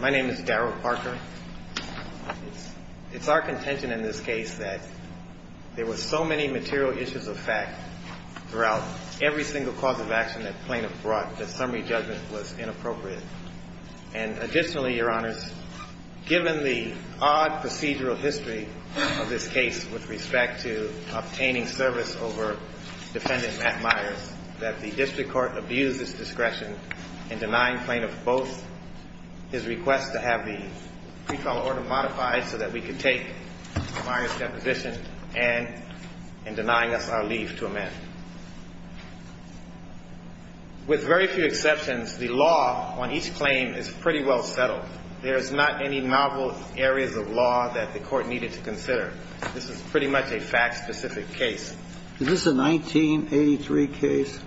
My name is Darrell Parker. It's our contention in this case that there were so many material issues of fact throughout every single cause of action that plaintiff brought that summary judgment was inappropriate. And additionally, your honors, given the odd procedural history of this case with respect to obtaining service over defendant Matt Myers, that the district court abused its discretion in denying plaintiff both his request to have the pre-trial order modified so that we could take Myers' deposition and in denying us our leave to amend. With very few exceptions, the law on each claim is pretty well settled. There's not any novel areas of law that the court needed to consider. This is pretty much a fact-specific case. Is this a 1983 case?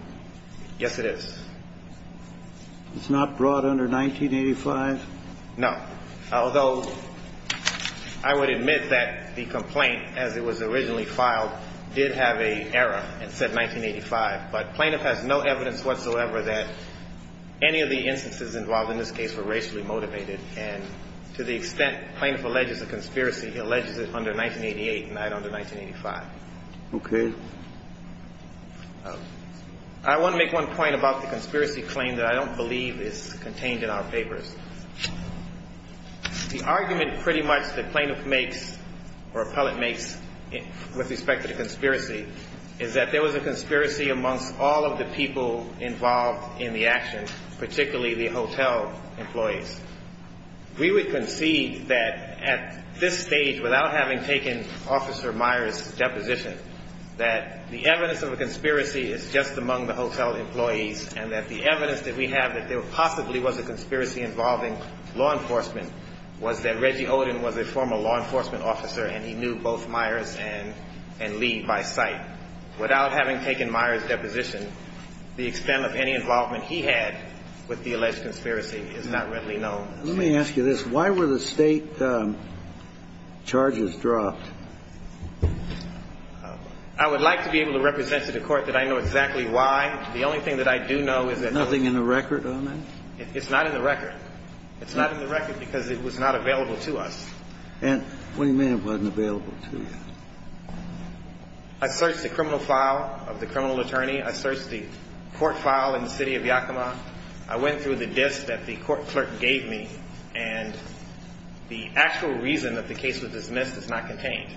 Yes, it is. It's not brought under 1985? No. Although I would admit that the complaint, as it was originally filed, did have an error and said 1985. But plaintiff has no evidence whatsoever that any of the instances involved in this case were racially motivated. And to the extent plaintiff alleges a conspiracy, he alleges it under 1988 and not under 1985. Okay. I want to make one point about the conspiracy claim that I don't believe is contained in our papers. The argument pretty much that plaintiff makes or appellate makes with respect to the conspiracy is that there was a conspiracy amongst all of the people involved in the action, particularly the hotel employees. We would concede that at this stage, without having taken Officer Myers' deposition, that the evidence of a conspiracy is just among the hotel employees and that the evidence that we have that there possibly was a conspiracy involving law enforcement was that Reggie Oden was a former law enforcement officer and he knew both Myers and Lee by sight. I would like to be able to represent to the Court that I know exactly why. The only thing that I do know is that the law enforcement was not involved in this case. I searched the criminal file of the criminal attorney. I searched the court file in the City of Yakima. I went through the disk that the court clerk gave me, and the actual reason that the case was dismissed is not contained.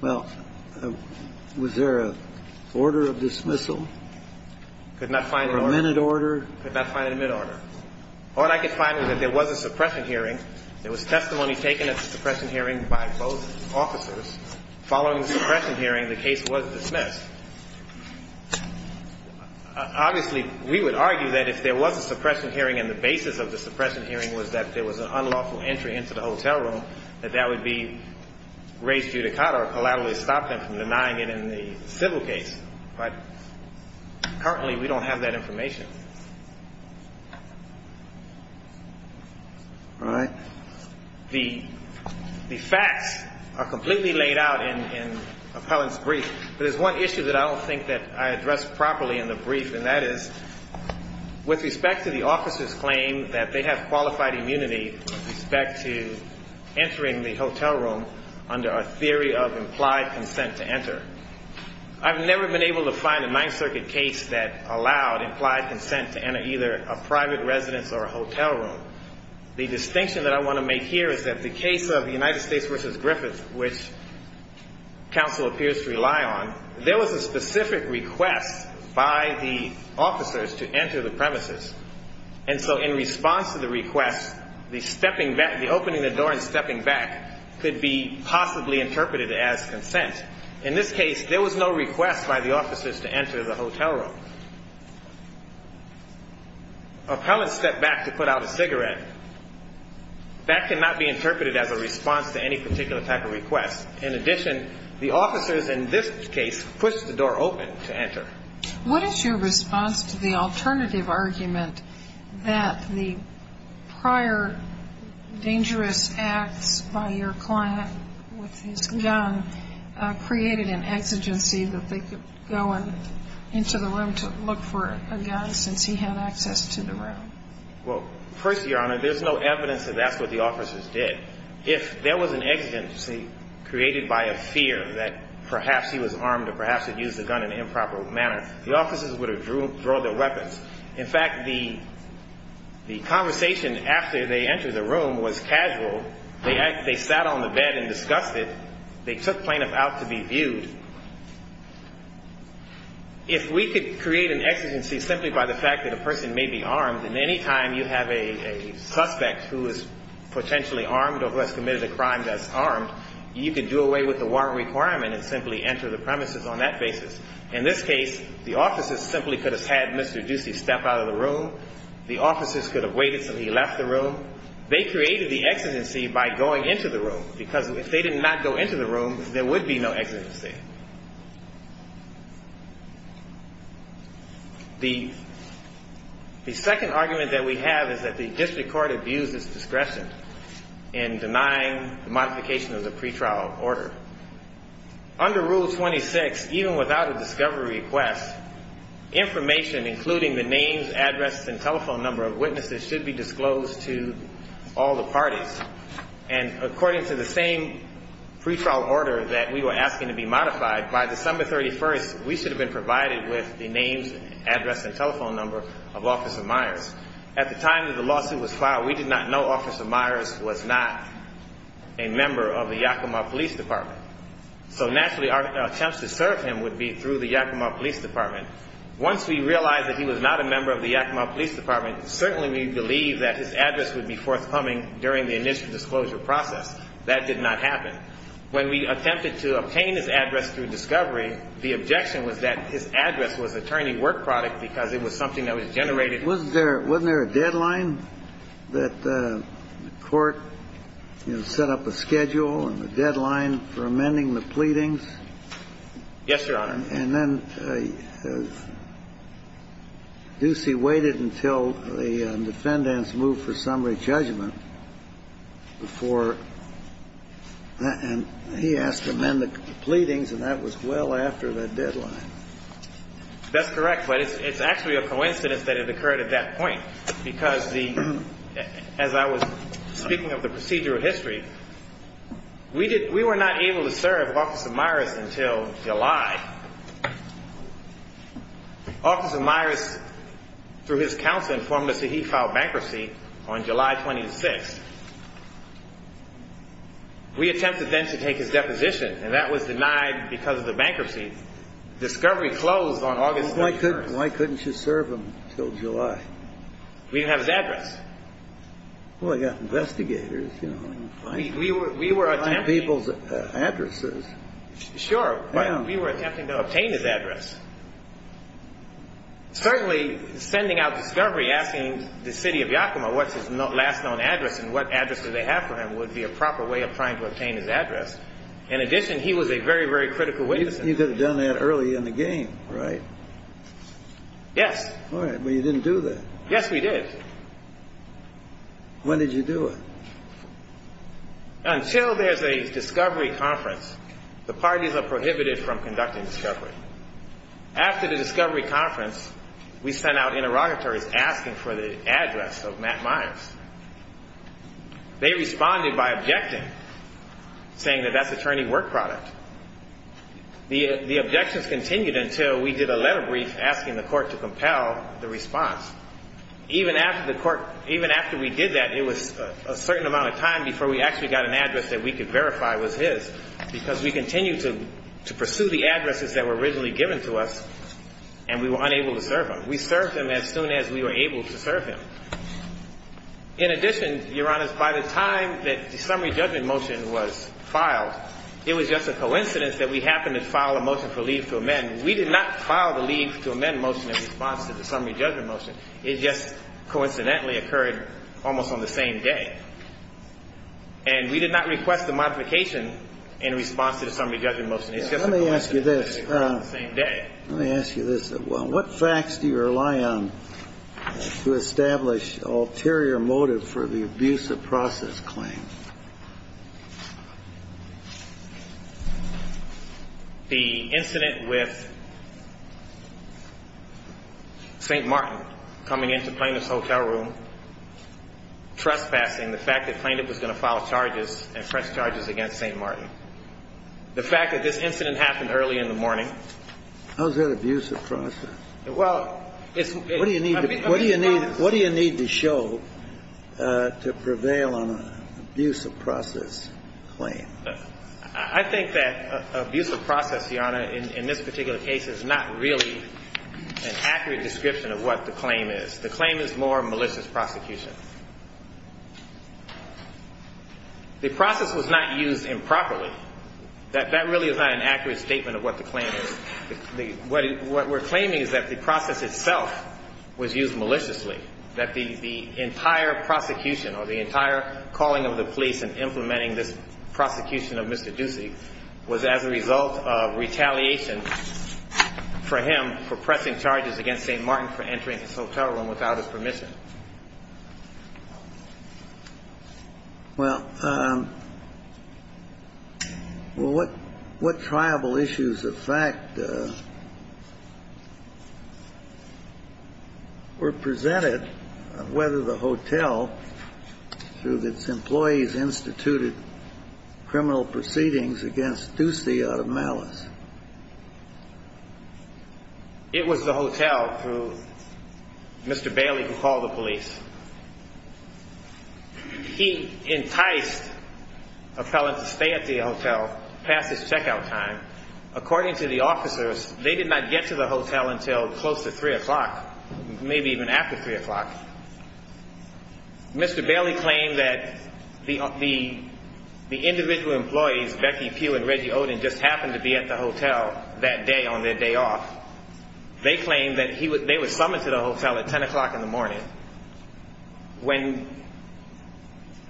Well, was there an order of dismissal? Could not find an order. Or a minute order? Could not find a minute order. All I could find was that there was a suppression hearing. There was testimony taken at the suppression hearing by both officers. Following the suppression hearing, the case was dismissed. Obviously, we would argue that if there was a suppression hearing and the basis of the suppression hearing was that there was an unlawful entry into the hotel room, that that would be raised judicata or collaterally stop them from denying it in the civil case. But currently, we don't have that information. All right. The facts are completely laid out in Appellant's brief, but there's one issue that I don't think that I addressed properly in the brief, and that is with respect to the officer's claim that they have qualified immunity with respect to entering the hotel room under a theory of implied consent to enter. I've never been able to find a Ninth Circuit case that allowed implied consent to enter either a private residence or a hotel room. The distinction that I want to make here is that the case of United States v. Griffith, which counsel appears to rely on, there was a specific request by the officers to enter the premises. And so in response to the request, the opening the door and stepping back could be possibly interpreted as consent. In this case, there was no request by the officers to enter the hotel room. Appellants stepped back to put out a cigarette. That cannot be interpreted as a response to any particular type of request. In addition, the officers in this case pushed the door open to enter. What is your response to the alternative argument that the prior dangerous acts by your client with his gun created an exigency that they could go into the room to look for a gun since he had access to the room? Well, first, Your Honor, there's no evidence that that's what the officers did. If there was an exigency created by a fear that perhaps he was armed or perhaps had used the gun in an improper manner, the officers would have drawn their weapons. In fact, the conversation after they entered the room was casual. They sat on the bed and discussed it. They took plaintiff out to be viewed. If we could create an exigency simply by the fact that a person may be armed and any time you have a suspect who is potentially armed or who has committed a crime that's armed, you could do away with the warrant requirement and simply enter the premises on that basis. In this case, the officers simply could have had Mr. Ducey step out of the room. The officers could have waited until he left the room. They created the exigency by going into the room because if they did not go into the room, there would be no exigency. The second argument that we have is that the district court abused its discretion in denying the modification of the pretrial order. Under Rule 26, even without a discovery request, information including the names, address, and telephone number of witnesses should be disclosed to all the parties. And according to the same pretrial order that we were asking to be modified, by December 31st, we should have been provided with the names, address, and telephone number of Officer Myers. At the time that the lawsuit was filed, we did not know Officer Myers was not a member of the Yakima Police Department. So naturally, our attempts to serve him would be through the Yakima Police Department. Once we realized that he was not a member of the Yakima Police Department, certainly we believed that his address would be forthcoming during the initial disclosure process. That did not happen. When we attempted to obtain his address through discovery, the objection was that his address was attorney work product because it was something that was generated. Was there – wasn't there a deadline that the court, you know, set up a schedule and a deadline for amending the pleadings? Yes, Your Honor. And then Ducey waited until the defendants moved for summary judgment before – and he asked to amend the pleadings, and that was well after that deadline. That's correct, but it's actually a coincidence that it occurred at that point because the – as I was speaking of the procedural history, we did – we were not able to serve Officer Myers until July. Officer Myers, through his counsel, informed us that he filed bankruptcy on July 26th. We attempted then to take his deposition, and that was denied because of the bankruptcy. Discovery closed on August 31st. Why couldn't you serve him until July? We didn't have his address. Well, you've got investigators, you know. We were attempting – People's addresses. Sure, but we were attempting to obtain his address. Certainly, sending out Discovery, asking the city of Yakima what's his last known address and what address do they have for him would be a proper way of trying to obtain his address. In addition, he was a very, very critical witness. You could have done that early in the game, right? Yes. All right, but you didn't do that. Yes, we did. When did you do it? Until there's a Discovery conference. The parties are prohibited from conducting Discovery. After the Discovery conference, we sent out interrogatories asking for the address of Matt Myers. They responded by objecting, saying that that's attorney work product. The objections continued until we did a letter brief asking the court to compel the response. Even after we did that, it was a certain amount of time before we actually got an address that we could verify was his, because we continued to pursue the addresses that were originally given to us, and we were unable to serve him. We served him as soon as we were able to serve him. In addition, Your Honor, by the time that the summary judgment motion was filed, it was just a coincidence that we happened to file a motion for leave to amend. And we did not file the leave to amend motion in response to the summary judgment motion. It just coincidentally occurred almost on the same day. And we did not request a modification in response to the summary judgment motion. Let me ask you this. Let me ask you this. What facts do you rely on to establish ulterior motive for the abuse of process claim? The incident with St. Martin coming into Plaintiff's hotel room, trespassing, the fact that Plaintiff was going to file charges and press charges against St. Martin. The fact that this incident happened early in the morning. How is that abuse of process? Well, it's been. I think that abuse of process, Your Honor, in this particular case, is not really an accurate description of what the claim is. The claim is more malicious prosecution. The process was not used improperly. That really is not an accurate statement of what the claim is. What we're claiming is that the process itself was used maliciously. That the entire prosecution or the entire calling of the police and implementing this prosecution of Mr. Ducey was as a result of retaliation for him for pressing charges against St. Martin for entering his hotel room without his permission. Well, what tribal issues of fact were presented whether the hotel through its employees instituted criminal proceedings against Ducey out of malice? It was the hotel through Mr. Bailey who called the police. He enticed a felon to stay at the hotel past his checkout time. According to the officers, they did not get to the hotel until close to 3 o'clock, maybe even after 3 o'clock. Mr. Bailey claimed that the individual employees, Becky Pugh and Reggie Oden, just happened to be at the hotel that day on their day off. They claimed that they were summoned to the hotel at 10 o'clock in the morning. When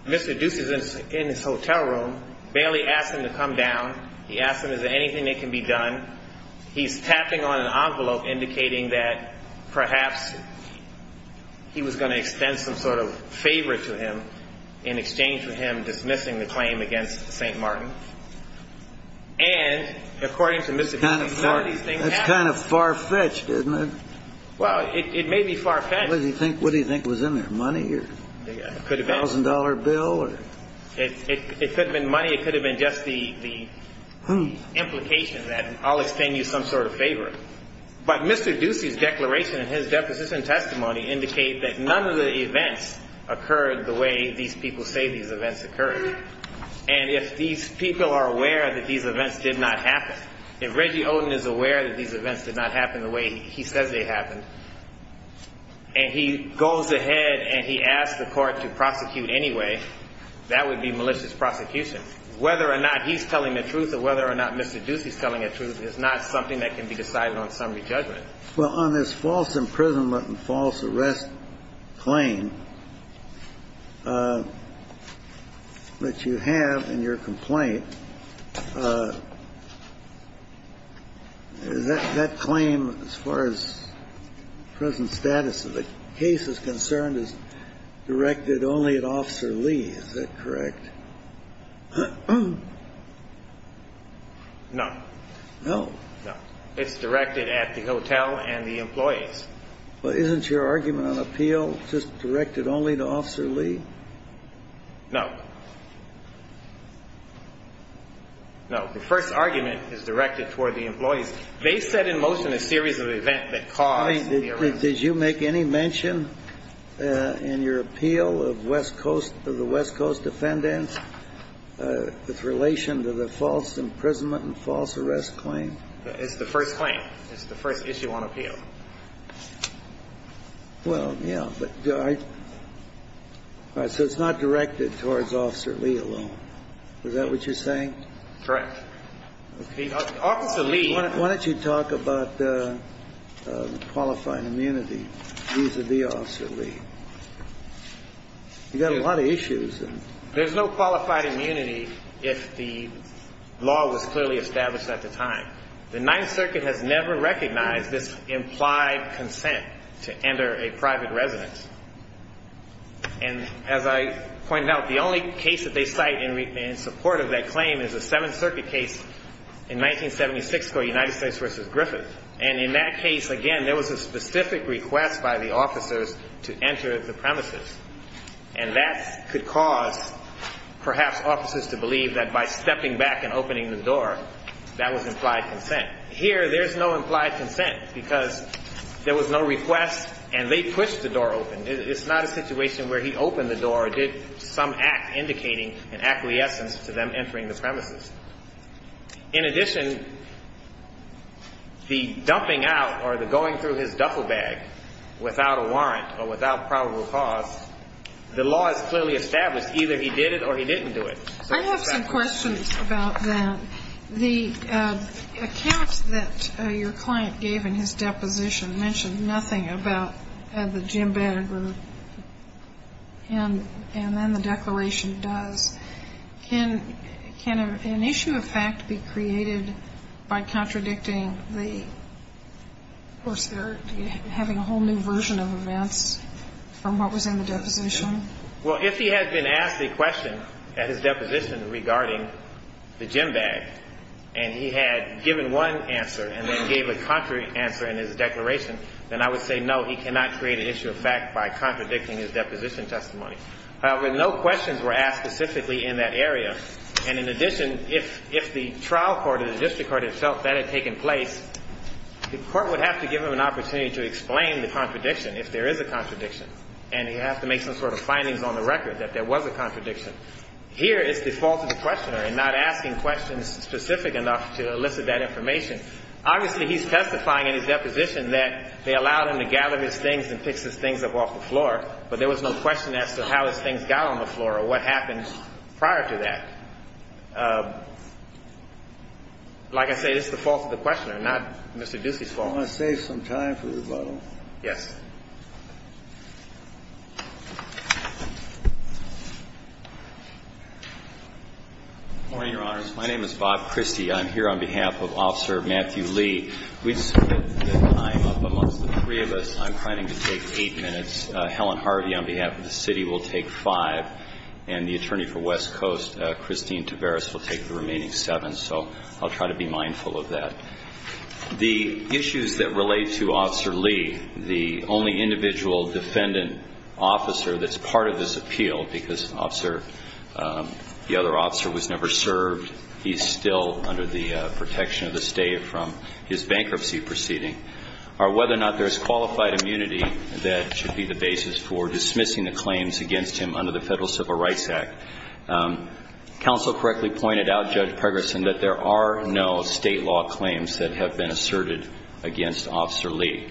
Mr. Ducey was in his hotel room, Bailey asked him to come down. He asked him, is there anything that can be done? He's tapping on an envelope indicating that perhaps he was going to extend some sort of favor to him in exchange for him dismissing the claim against St. Martin. And according to Mr. Ducey, some of these things happened. That's kind of far-fetched, isn't it? Well, it may be far-fetched. What do you think was in there, money or a $1,000 bill? It could have been money. It could have been just the implication that I'll extend you some sort of favor. But Mr. Ducey's declaration and his deposition testimony indicate that none of the events occurred the way these people say these events occurred. And if these people are aware that these events did not happen, if Reggie Oden is aware that these events did not happen the way he says they happened, and he goes ahead and he asks the court to prosecute anyway, that would be malicious prosecution. Whether or not he's telling the truth or whether or not Mr. Ducey's telling the truth is not something that can be decided on summary judgment. Well, on this false imprisonment and false arrest claim that you have in your complaint, that claim, as far as prison status of the case is concerned, is directed only at Officer Lee. Is that correct? No. No? No. It's directed at the hotel and the employees. Well, isn't your argument on appeal just directed only to Officer Lee? No. No. The first argument is directed toward the employees. They set in motion a series of events that caused the arrest. Did you make any mention in your appeal of West Coast, of the West Coast defendants, with relation to the false imprisonment and false arrest claim? It's the first claim. It's the first issue on appeal. Well, yeah, but I – so it's not directed towards Officer Lee alone. Is that what you're saying? Correct. Officer Lee – Why don't you talk about qualifying immunity vis-à-vis Officer Lee? You've got a lot of issues. There's no qualified immunity if the law was clearly established at the time. The Ninth Circuit has never recognized this implied consent to enter a private residence. And as I pointed out, the only case that they cite in support of that claim is a Seventh Circuit case in 1976 called United States v. Griffith. And in that case, again, there was a specific request by the officers to enter the premises. And that could cause, perhaps, officers to believe that by stepping back and opening the door, that was implied consent. Here, there's no implied consent because there was no request, and they pushed the door open. It's not a situation where he opened the door or did some act indicating an acquiescence to them entering the premises. In addition, the dumping out or the going through his duffel bag without a warrant or without probable cause, the law is clearly established either he did it or he didn't do it. I have some questions about that. The account that your client gave in his deposition mentioned nothing about the Jim Bannagher and then the declaration does. Can an issue of fact be created by contradicting the of course, they're having a whole new version of events from what was in the deposition? Well, if he had been asked a question at his deposition regarding the Jim Bannagher and he had given one answer and then gave a contrary answer in his declaration, then I would say, no, he cannot create an issue of fact by contradicting his deposition testimony. However, no questions were asked specifically in that area. And in addition, if the trial court or the district court had felt that had taken place, the court would have to give him an opportunity to explain the contradiction if there is a contradiction, and he'd have to make some sort of findings on the record that there was a contradiction. Here, it's the fault of the questioner in not asking questions specific enough to elicit that information. Obviously, he's testifying in his deposition that they allowed him to gather his things and fix his things up off the floor, but there was no question as to how his things got on the floor or what happened prior to that. Like I say, it's the fault of the questioner, not Mr. Ducey's fault. I'm going to save some time for rebuttal. Yes. Good morning, Your Honors. My name is Bob Christie. I'm here on behalf of Officer Matthew Lee. We've split the time up amongst the three of us. I'm planning to take eight minutes. Helen Harvey, on behalf of the city, will take five. And the attorney for West Coast, Christine Tavares, will take the remaining seven. So I'll try to be mindful of that. The issues that relate to Officer Lee, the only individual defendant officer that's part of this appeal, because the other officer was never served, he's still under the protection of the state from his bankruptcy proceeding, are whether or not there's qualified immunity that should be the basis for dismissing the claims against him under the Federal Civil Rights Act. Counsel correctly pointed out, Judge Pregerson, that there are no state law claims that have been asserted against Officer Lee.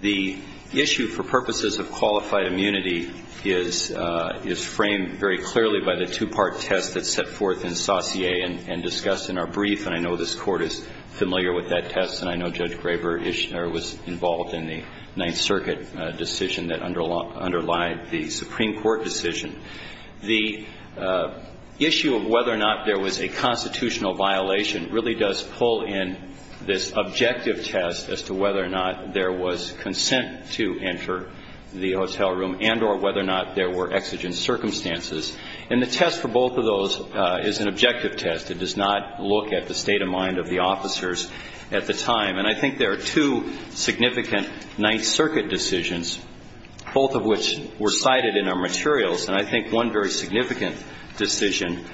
The issue for purposes of qualified immunity is framed very clearly by the two-part test that's set forth in Saussure and discussed in our brief, and I know this Court is familiar with that test, and I know Judge Graber-Ishner was involved in the Ninth Circuit decision that underlied the Supreme Court decision. The issue of whether or not there was a constitutional violation really does pull in this objective test as to whether or not there was consent to enter the hotel room and or whether or not there were exigent circumstances. And the test for both of those is an objective test. It does not look at the state of mind of the officers at the time. And I think there are two significant Ninth Circuit decisions, both of which were cited in our materials, and I think one very significant decision,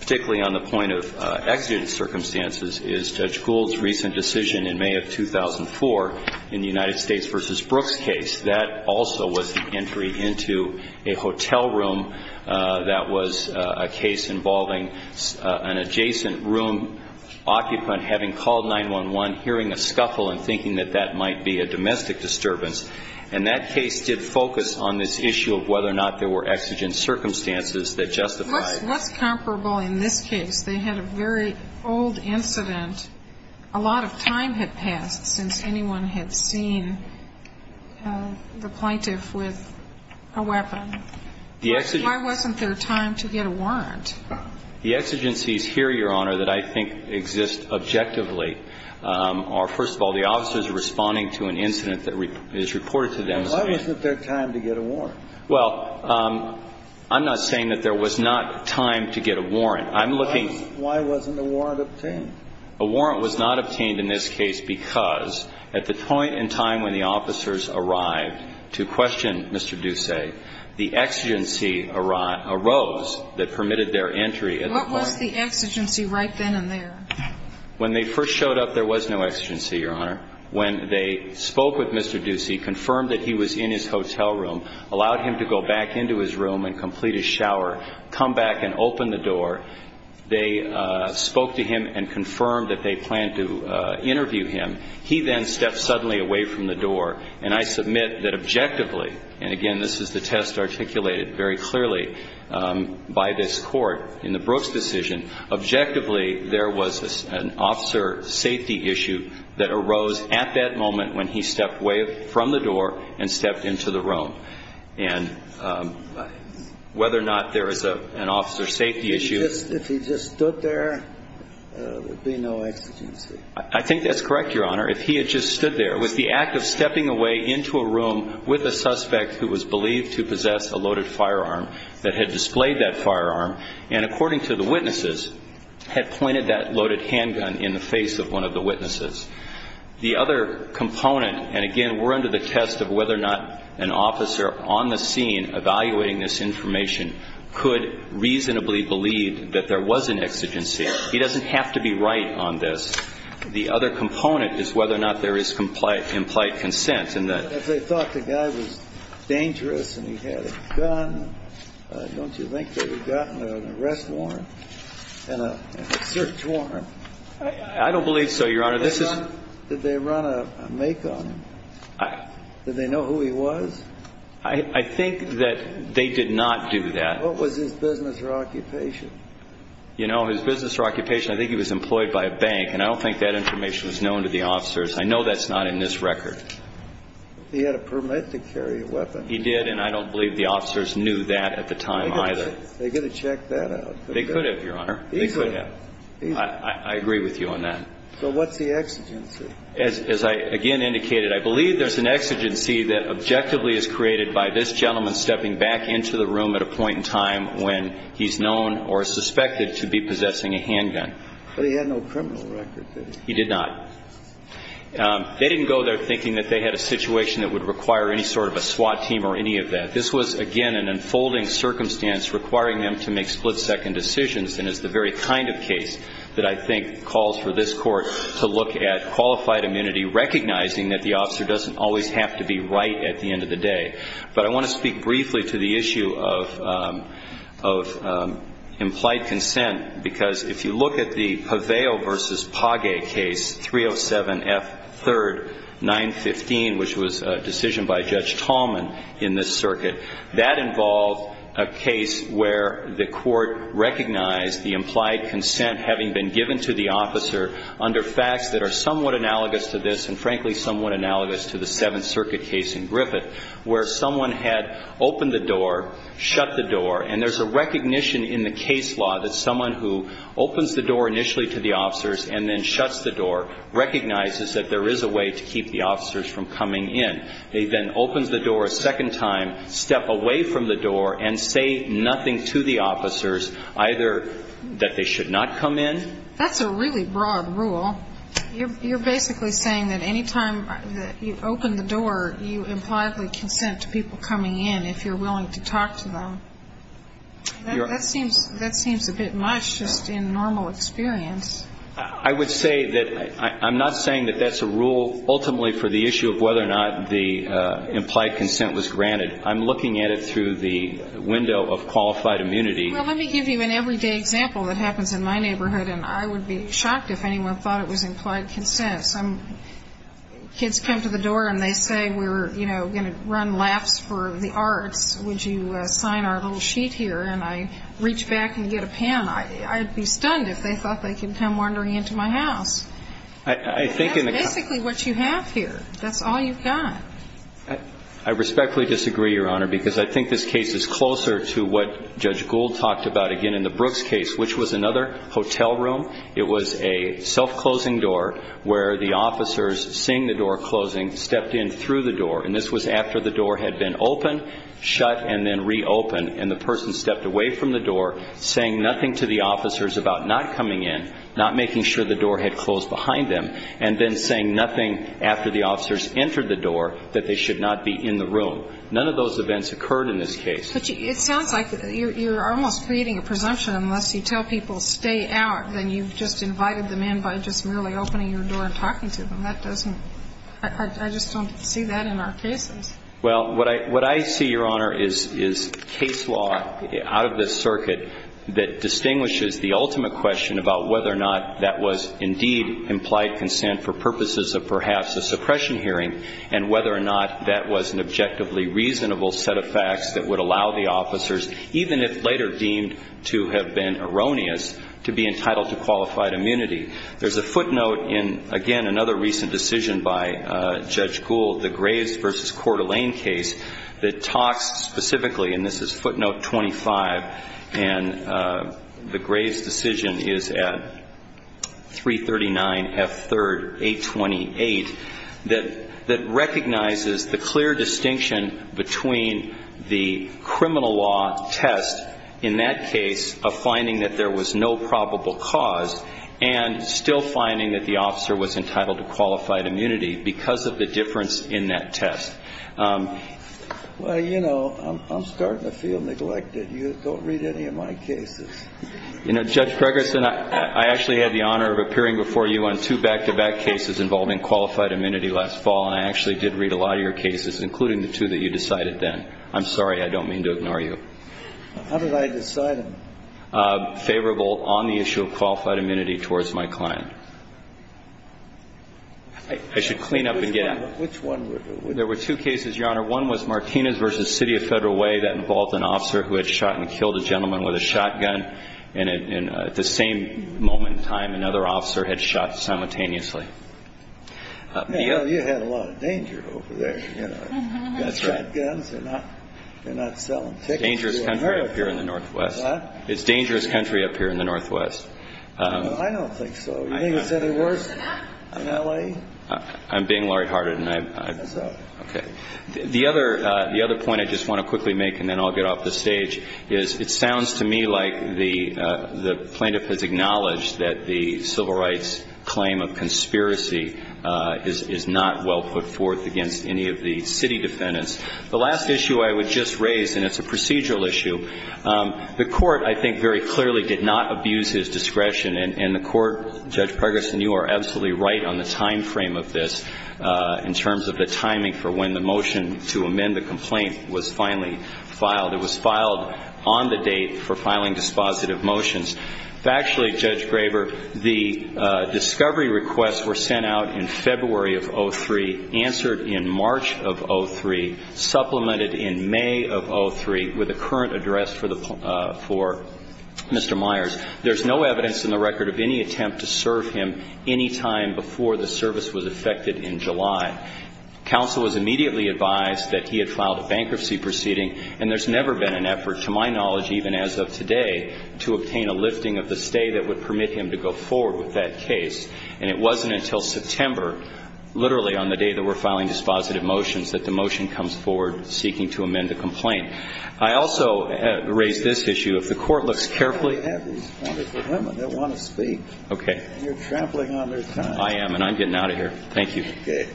particularly on the point of exigent circumstances, is Judge Gould's recent decision in May of 2004 in the United States v. Brooks case. That also was the entry into a hotel room that was a case involving an adjacent room occupant having called 911, hearing a scuffle and thinking that that might be a domestic disturbance. And that case did focus on this issue of whether or not there were exigent circumstances that justified. What's comparable in this case? They had a very old incident. A lot of time had passed since anyone had seen the plaintiff with a weapon. Why wasn't there time to get a warrant? The exigencies here, Your Honor, that I think exist objectively are, first of all, the officers responding to an incident that is reported to them. Why wasn't there time to get a warrant? Well, I'm not saying that there was not time to get a warrant. Why wasn't a warrant obtained? A warrant was not obtained in this case because at the point in time when the officers arrived to question Mr. Ducey, the exigency arose that permitted their entry at the court. What was the exigency right then and there? When they first showed up, there was no exigency, Your Honor. When they spoke with Mr. Ducey, confirmed that he was in his hotel room, allowed him to go back into his room and complete his shower, come back and open the door, they spoke to him and confirmed that they planned to interview him. He then stepped suddenly away from the door, and I submit that objectively, and again this is the test articulated very clearly by this court in the Brooks decision, objectively there was an officer safety issue that arose at that moment when he stepped away from the door and stepped into the room. And whether or not there was an officer safety issue. If he just stood there, there would be no exigency. I think that's correct, Your Honor. If he had just stood there. It was the act of stepping away into a room with a suspect who was believed to possess a loaded firearm that had displayed that firearm and, according to the witnesses, had pointed that loaded handgun in the face of one of the witnesses. The other component, and again we're under the test of whether or not an officer on the scene evaluating this information could reasonably believe that there was an exigency. He doesn't have to be right on this. The other component is whether or not there is implied consent. If they thought the guy was dangerous and he had a gun, don't you think they would have gotten an arrest warrant and a search warrant? I don't believe so, Your Honor. Did they run a make on him? Did they know who he was? I think that they did not do that. What was his business or occupation? You know, his business or occupation, I think he was employed by a bank, and I don't think that information was known to the officers. I know that's not in this record. He had a permit to carry a weapon. He did, and I don't believe the officers knew that at the time either. They could have checked that out. They could have, Your Honor. They could have. I agree with you on that. So what's the exigency? As I again indicated, I believe there's an exigency that objectively is created by this gentleman stepping back into the room at a point in time when he's known or suspected to be possessing a handgun. But he had no criminal record, did he? He did not. They didn't go there thinking that they had a situation that would require any sort of a SWAT team or any of that. This was, again, an unfolding circumstance requiring them to make split-second decisions, and it's the very kind of case that I think calls for this Court to look at qualified immunity, recognizing that the officer doesn't always have to be right at the end of the day. But I want to speak briefly to the issue of implied consent, because if you look at the Paveo v. Pagay case, 307F3, 915, which was a decision by Judge Tallman in this case, he recognized the implied consent having been given to the officer under facts that are somewhat analogous to this and, frankly, somewhat analogous to the Seventh Circuit case in Griffith, where someone had opened the door, shut the door, and there's a recognition in the case law that someone who opens the door initially to the officers and then shuts the door recognizes that there is a way to keep the officers from coming in. They then open the door a second time, step away from the door, and say nothing to the officers, either that they should not come in. That's a really broad rule. You're basically saying that any time that you open the door, you impliedly consent to people coming in if you're willing to talk to them. That seems a bit much just in normal experience. I would say that I'm not saying that that's a rule ultimately for the issue of whether or not the implied consent was granted. I'm looking at it through the window of qualified immunity. Well, let me give you an everyday example that happens in my neighborhood, and I would be shocked if anyone thought it was implied consent. Some kids come to the door and they say we're going to run laps for the arts. Would you sign our little sheet here? And I reach back and get a pen. I'd be stunned if they thought they could come wandering into my house. That's basically what you have here. That's all you've got. I respectfully disagree, Your Honor, because I think this case is closer to what Judge Gould talked about, again, in the Brooks case, which was another hotel room. It was a self-closing door where the officers, seeing the door closing, stepped in through the door. And this was after the door had been opened, shut, and then reopened. And the person stepped away from the door, saying nothing to the officers about not coming in, not making sure the door had closed behind them, and then saying nothing after the officers entered the door that they should not be in the room. None of those events occurred in this case. But it sounds like you're almost creating a presumption. Unless you tell people stay out, then you've just invited them in by just merely opening your door and talking to them. That doesn't – I just don't see that in our cases. Well, what I see, Your Honor, is case law out of this circuit that distinguishes the ultimate question about whether or not that was indeed implied consent for purposes of perhaps a suppression hearing, and whether or not that was an objectively reasonable set of facts that would allow the officers, even if later deemed to have been erroneous, to be entitled to qualified immunity. There's a footnote in, again, another recent decision by Judge Gould, the Graves v. Coeur d'Alene case, that talks specifically, and this is footnote 25, and the Graves decision is at 339 F. 3rd, 828, that recognizes the clear distinction between the criminal law test in that case of finding that there was no probable cause and still finding that the officer was entitled to qualified immunity because of the difference in that test. Well, you know, I'm starting to feel neglected. You don't read any of my cases. You know, Judge Pregerson, I actually had the honor of appearing before you on two back-to-back cases involving qualified immunity last fall, and I actually did read a lot of your cases, including the two that you decided then. I'm sorry. I don't mean to ignore you. How did I decide them? Favorable on the issue of qualified immunity towards my client. I should clean up and get at them. Which one? There were two cases, Your Honor. One was Martinez v. City of Federal Way. That involved an officer who had shot and killed a gentleman with a shotgun, and at the same moment in time, another officer had shot simultaneously. Well, you had a lot of danger over there, you know. That's right. Shotguns, they're not selling tickets to America. Dangerous country up here in the northwest. It's dangerous country up here in the northwest. I don't think so. You think it's any worse in L.A.? I'm being lighthearted, and I'm sorry. Okay. The other point I just want to quickly make, and then I'll get off the stage, is it sounds to me like the plaintiff has acknowledged that the civil rights claim of conspiracy is not well put forth against any of the city defendants. The last issue I would just raise, and it's a procedural issue, the Court, I think, very clearly did not abuse his discretion. And the Court, Judge Pregerson, you are absolutely right on the time frame of this in terms of the timing for when the motion to amend the complaint was finally filed. It was filed on the date for filing dispositive motions. Factually, Judge Graber, the discovery requests were sent out in February of 2003, answered in March of 2003, supplemented in May of 2003 with a current address for Mr. Myers. There's no evidence in the record of any attempt to serve him any time before the service was effected in July. Counsel was immediately advised that he had filed a bankruptcy proceeding, and there's never been an effort, to my knowledge, even as of today, to obtain a lifting of the stay that would permit him to go forward with that case. And it wasn't until September, literally on the day that we're filing dispositive motions, that the motion comes forward seeking to amend the complaint. I also raise this issue. If the Court looks carefully. You have these wonderful women. They'll want to speak. Okay. You're trampling on their time. I am, and I'm getting out of here. Thank you. Okay.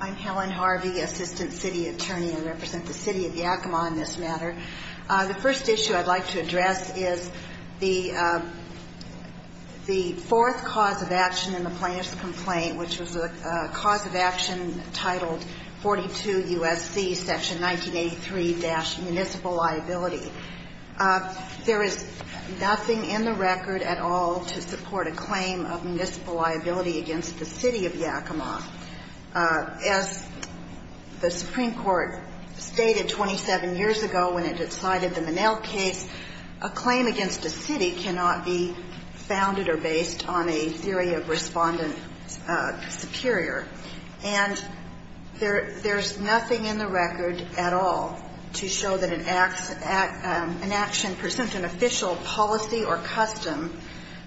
I'm Helen Harvey, Assistant City Attorney. I represent the City of Yakima on this matter. The first issue I'd like to address is the fourth cause of action in the plaintiff's complaint, which was a cause of action titled 42 U.S.C. Section 1983-Municipal Liability. There is nothing in the record at all to support a claim of municipal liability against the City of Yakima. As the Supreme Court stated 27 years ago when it decided the Minnell case, a claim against the City cannot be founded or based on a theory of Respondent Superior. And there's nothing in the record at all to show that an action present an official policy or custom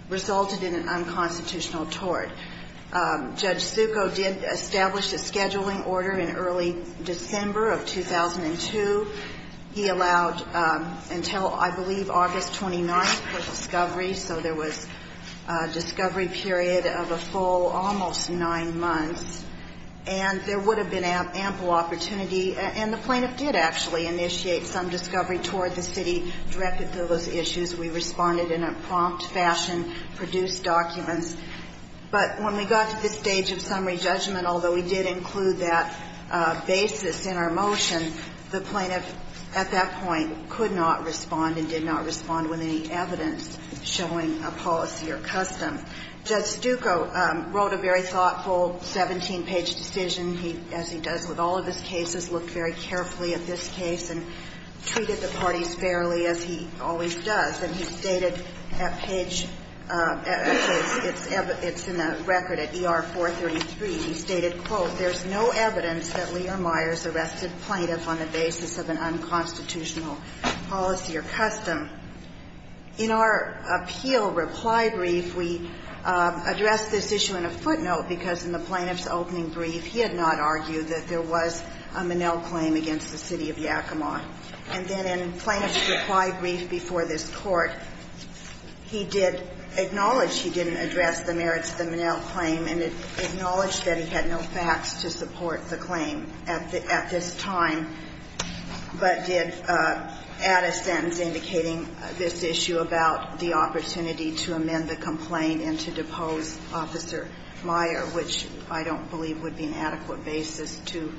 resulted in an unconstitutional tort. Judge Succo did establish a scheduling order in early December of 2002. He allowed until, I believe, August 29th for discovery, so there was a discovery period of a full almost nine months. And there would have been ample opportunity, and the plaintiff did actually initiate some discovery toward the city directed to those issues. We responded in a prompt fashion, produced documents. But when we got to this stage of summary judgment, although we did include that basis in our motion, the plaintiff at that point could not respond and did not respond with any evidence showing a policy or custom. Judge Succo wrote a very thoughtful 17-page decision, as he does with all of his cases, looked very carefully at this case and treated the parties fairly, as he always does. And he stated at page – actually, it's in the record at ER 433. He stated, quote, there's no evidence that Leah Myers arrested plaintiff on the basis of an unconstitutional policy or custom. In our appeal reply brief, we addressed this issue in a footnote, because in the plaintiff's opening brief, he had not argued that there was a Minnell claim against the city of Yakima. And then in plaintiff's reply brief before this Court, he did acknowledge he didn't address the merits of the Minnell claim, and acknowledged that he had no facts to support the claim at this time, but did add a sentence indicating this issue about the opportunity to amend the complaint and to depose Officer Meyer, which I don't believe would be an adequate basis to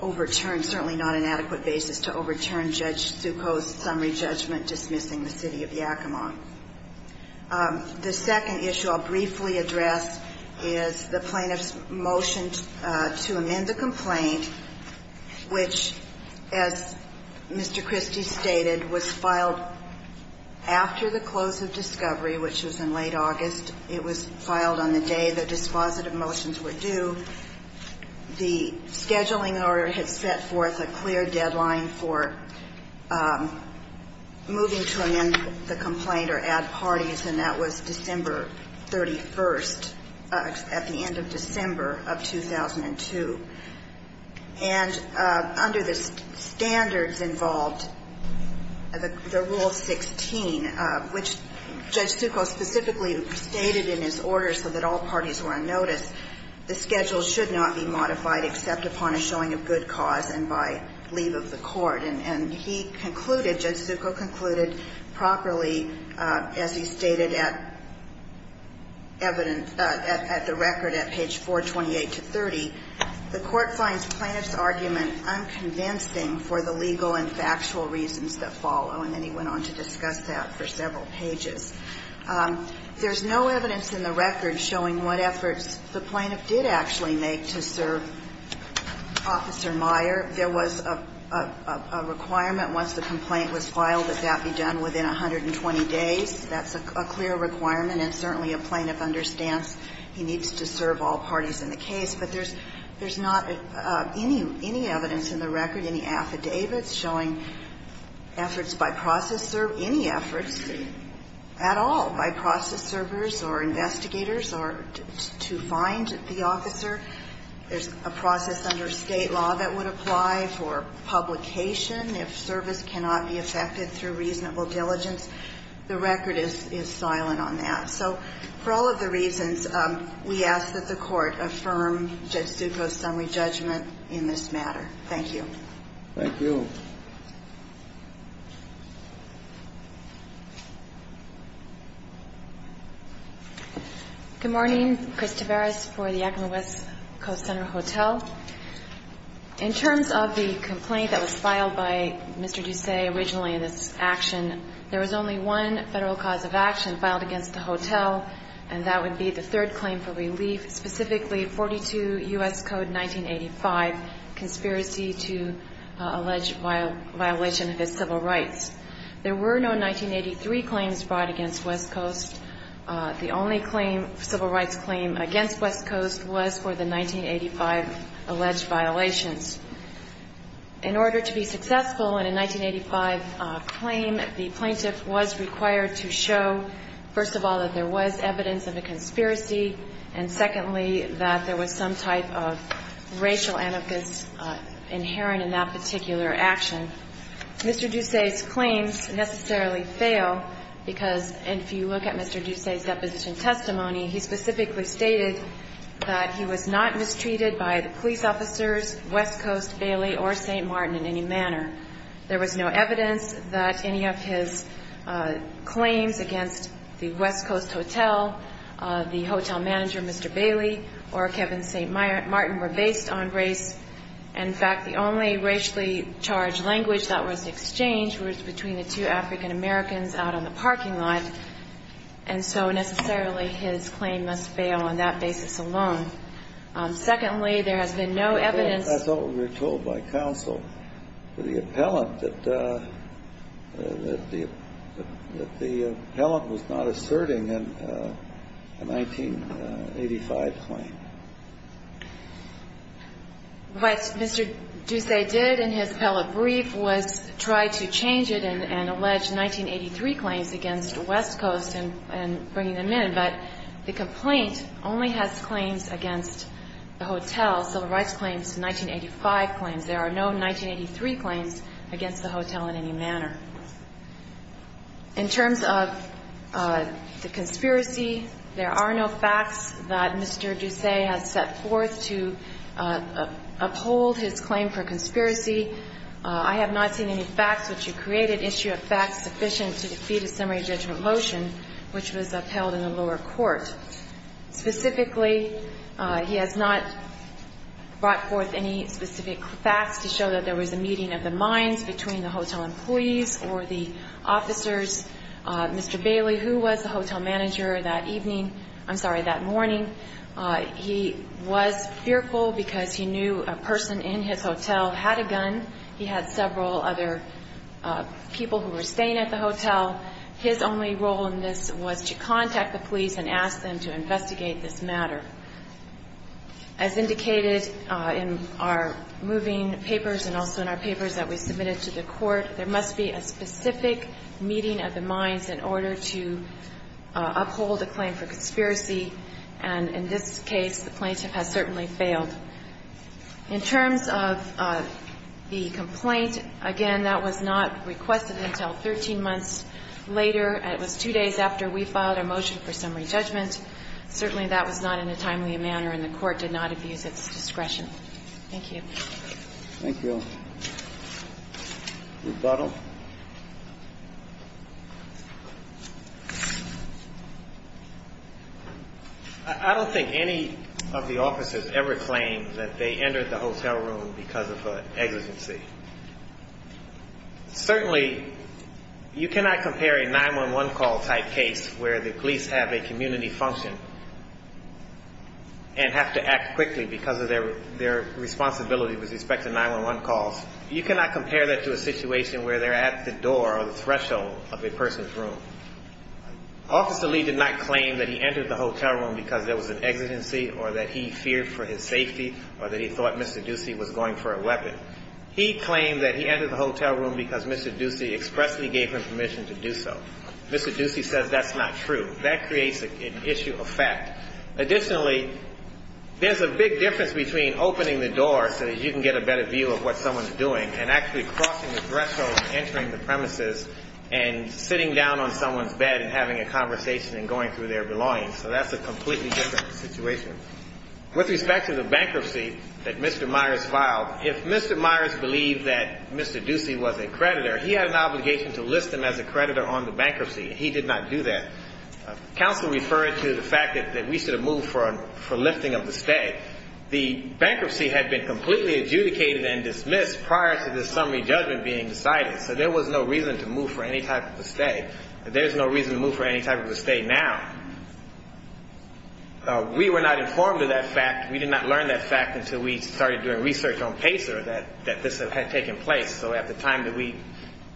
overturn, certainly not an adequate basis to overturn Judge Succo's summary judgment dismissing the city of Yakima. The second issue I'll briefly address is the plaintiff's motion to amend the complaint, which, as Mr. Christie stated, was filed after the close of discovery, which was in late August. It was filed on the day the dispositive motions were due. The scheduling order had set forth a clear deadline for moving to amend the complaint. The deadline for moving to amend the complaint or add parties, and that was December 31st, at the end of December of 2002. And under the standards involved, the Rule 16, which Judge Succo specifically stated in his order so that all parties were on notice, the schedule should not be modified except upon a showing of good cause and by leave of the court. And he concluded, Judge Succo concluded properly, as he stated at evidence, at the record at page 428 to 30, the court finds plaintiff's argument unconvincing for the legal and factual reasons that follow. And then he went on to discuss that for several pages. There's no evidence in the record showing what efforts the plaintiff did actually make to serve Officer Meyer. There was a requirement once the complaint was filed that that be done within 120 days. That's a clear requirement, and certainly a plaintiff understands he needs to serve all parties in the case. But there's not any evidence in the record, any affidavits showing efforts by process or any efforts at all by process servers or investigators to find the officer. There's a process under State law that would apply for publication if service cannot be effected through reasonable diligence. The record is silent on that. So for all of the reasons, we ask that the Court affirm Judge Succo's summary judgment in this matter. Thank you. Thank you. Good morning. Chris Tavares for the Yakima West Coast Center Hotel. In terms of the complaint that was filed by Mr. Ducey originally in this action, there was only one federal cause of action filed against the hotel, and that would be the third claim for relief, specifically 42 U.S. Code 1985, conspiracy to allege oil smuggling. There were no 1983 claims brought against West Coast. The only claim, civil rights claim, against West Coast was for the 1985 alleged violations. In order to be successful in a 1985 claim, the plaintiff was required to show, first of all, that there was evidence of a conspiracy, and secondly, that there was some type of racial anarchist inherent in that particular action. Mr. Ducey's claims necessarily fail because, if you look at Mr. Ducey's deposition testimony, he specifically stated that he was not mistreated by the police officers, West Coast, Bailey, or St. Martin in any manner. There was no evidence that any of his claims against the West Coast hotel, the hotel manager, Mr. Bailey, or Kevin St. Martin were based on race. In fact, the only racially charged language that was exchanged was between the two African Americans out on the parking lot, and so necessarily his claim must fail on that basis alone. Secondly, there has been no evidence. I thought we were told by counsel to the appellant that the appellant was not What Mr. Ducey did in his appellate brief was try to change it and allege 1983 claims against West Coast and bringing them in, but the complaint only has claims against the hotel, civil rights claims, 1985 claims. There are no 1983 claims against the hotel in any manner. In terms of the conspiracy, there are no facts that Mr. Ducey has set forth to uphold his claim for conspiracy. I have not seen any facts which he created, issue of facts sufficient to defeat a summary judgment motion, which was upheld in the lower court. Specifically, he has not brought forth any specific facts to show that there was a meeting of the minds between the hotel employees or the officers. Mr. Bailey, who was the hotel manager that evening, I'm sorry, that morning, he was fearful because he knew a person in his hotel had a gun. He had several other people who were staying at the hotel. His only role in this was to contact the police and ask them to investigate this matter. As indicated in our moving papers and also in our papers that we submitted to the court, there must be a specific meeting of the minds in order to uphold a claim for conspiracy. And in this case, the plaintiff has certainly failed. In terms of the complaint, again, that was not requested until 13 months later. It was two days after we filed a motion for summary judgment. Certainly, that was not in a timely manner and the Court did not abuse its discretion. Thank you. Thank you. Rebuttal. I don't think any of the officers ever claimed that they entered the hotel room because of an exigency. Certainly, you cannot compare a 911 call type case where the police have a community function and have to act quickly because of their responsibility with respect to 911 calls. You cannot compare that to a situation where they're at the door or the threshold of a person's room. Officer Lee did not claim that he entered the hotel room because there was an exigency or that he feared for his safety or that he thought Mr. Ducey was going for a weapon. He claimed that he entered the hotel room because Mr. Ducey expressly gave him permission to do so. Mr. Ducey says that's not true. That creates an issue of fact. Additionally, there's a big difference between opening the door so that you can get a better view of what someone's doing and actually crossing the threshold and entering the premises and sitting down on someone's bed and having a conversation and going through their belongings. So that's a completely different situation. With respect to the bankruptcy that Mr. Myers filed, if Mr. Myers believed that Mr. Ducey was a creditor, he had an obligation to list him as a creditor on the bankruptcy. He did not do that. Counsel referred to the fact that we should have moved for lifting of the stay. The bankruptcy had been completely adjudicated and dismissed prior to this summary judgment being decided, so there was no reason to move for any type of a stay. There's no reason to move for any type of a stay now. We were not informed of that fact. We did not learn that fact until we started doing research on PACER that this had taken place. So at the time that we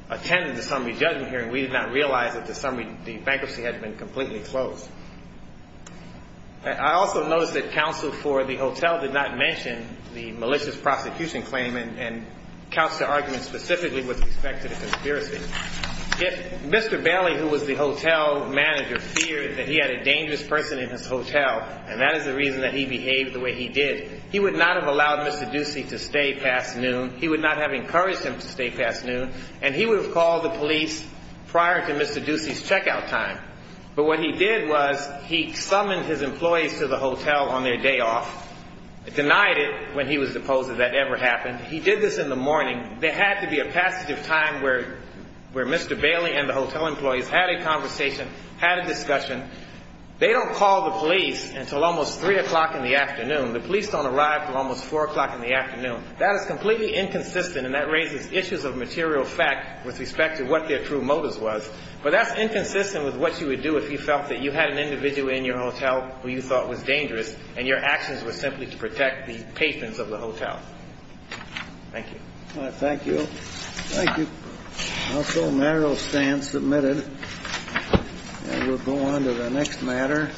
attended the summary judgment hearing, we did not realize that the bankruptcy had been completely closed. I also noticed that counsel for the hotel did not mention the malicious prosecution claim and counsel's argument specifically was with respect to the conspiracy. If Mr. Bailey, who was the hotel manager, feared that he had a dangerous person in his hotel, and that is the reason that he behaved the way he did, he would not have allowed Mr. Ducey to stay past noon. He would not have encouraged him to stay past noon, and he would have called the police prior to Mr. Ducey's checkout time. But what he did was he summoned his employees to the hotel on their day off, denied it when he was opposed that that ever happened. He did this in the morning. There had to be a passage of time where Mr. Bailey and the hotel employees had a conversation, had a discussion. They don't call the police until almost 3 o'clock in the afternoon. The police don't arrive until almost 4 o'clock in the afternoon. That is completely inconsistent, and that raises issues of material fact with respect to what their true motives was. But that's inconsistent with what you would do if you felt that you had an individual in your hotel who you thought was dangerous and your actions were simply to protect the patrons of the hotel. Thank you. Thank you. Thank you. Household matter will stand submitted. And we'll go on to the next matter.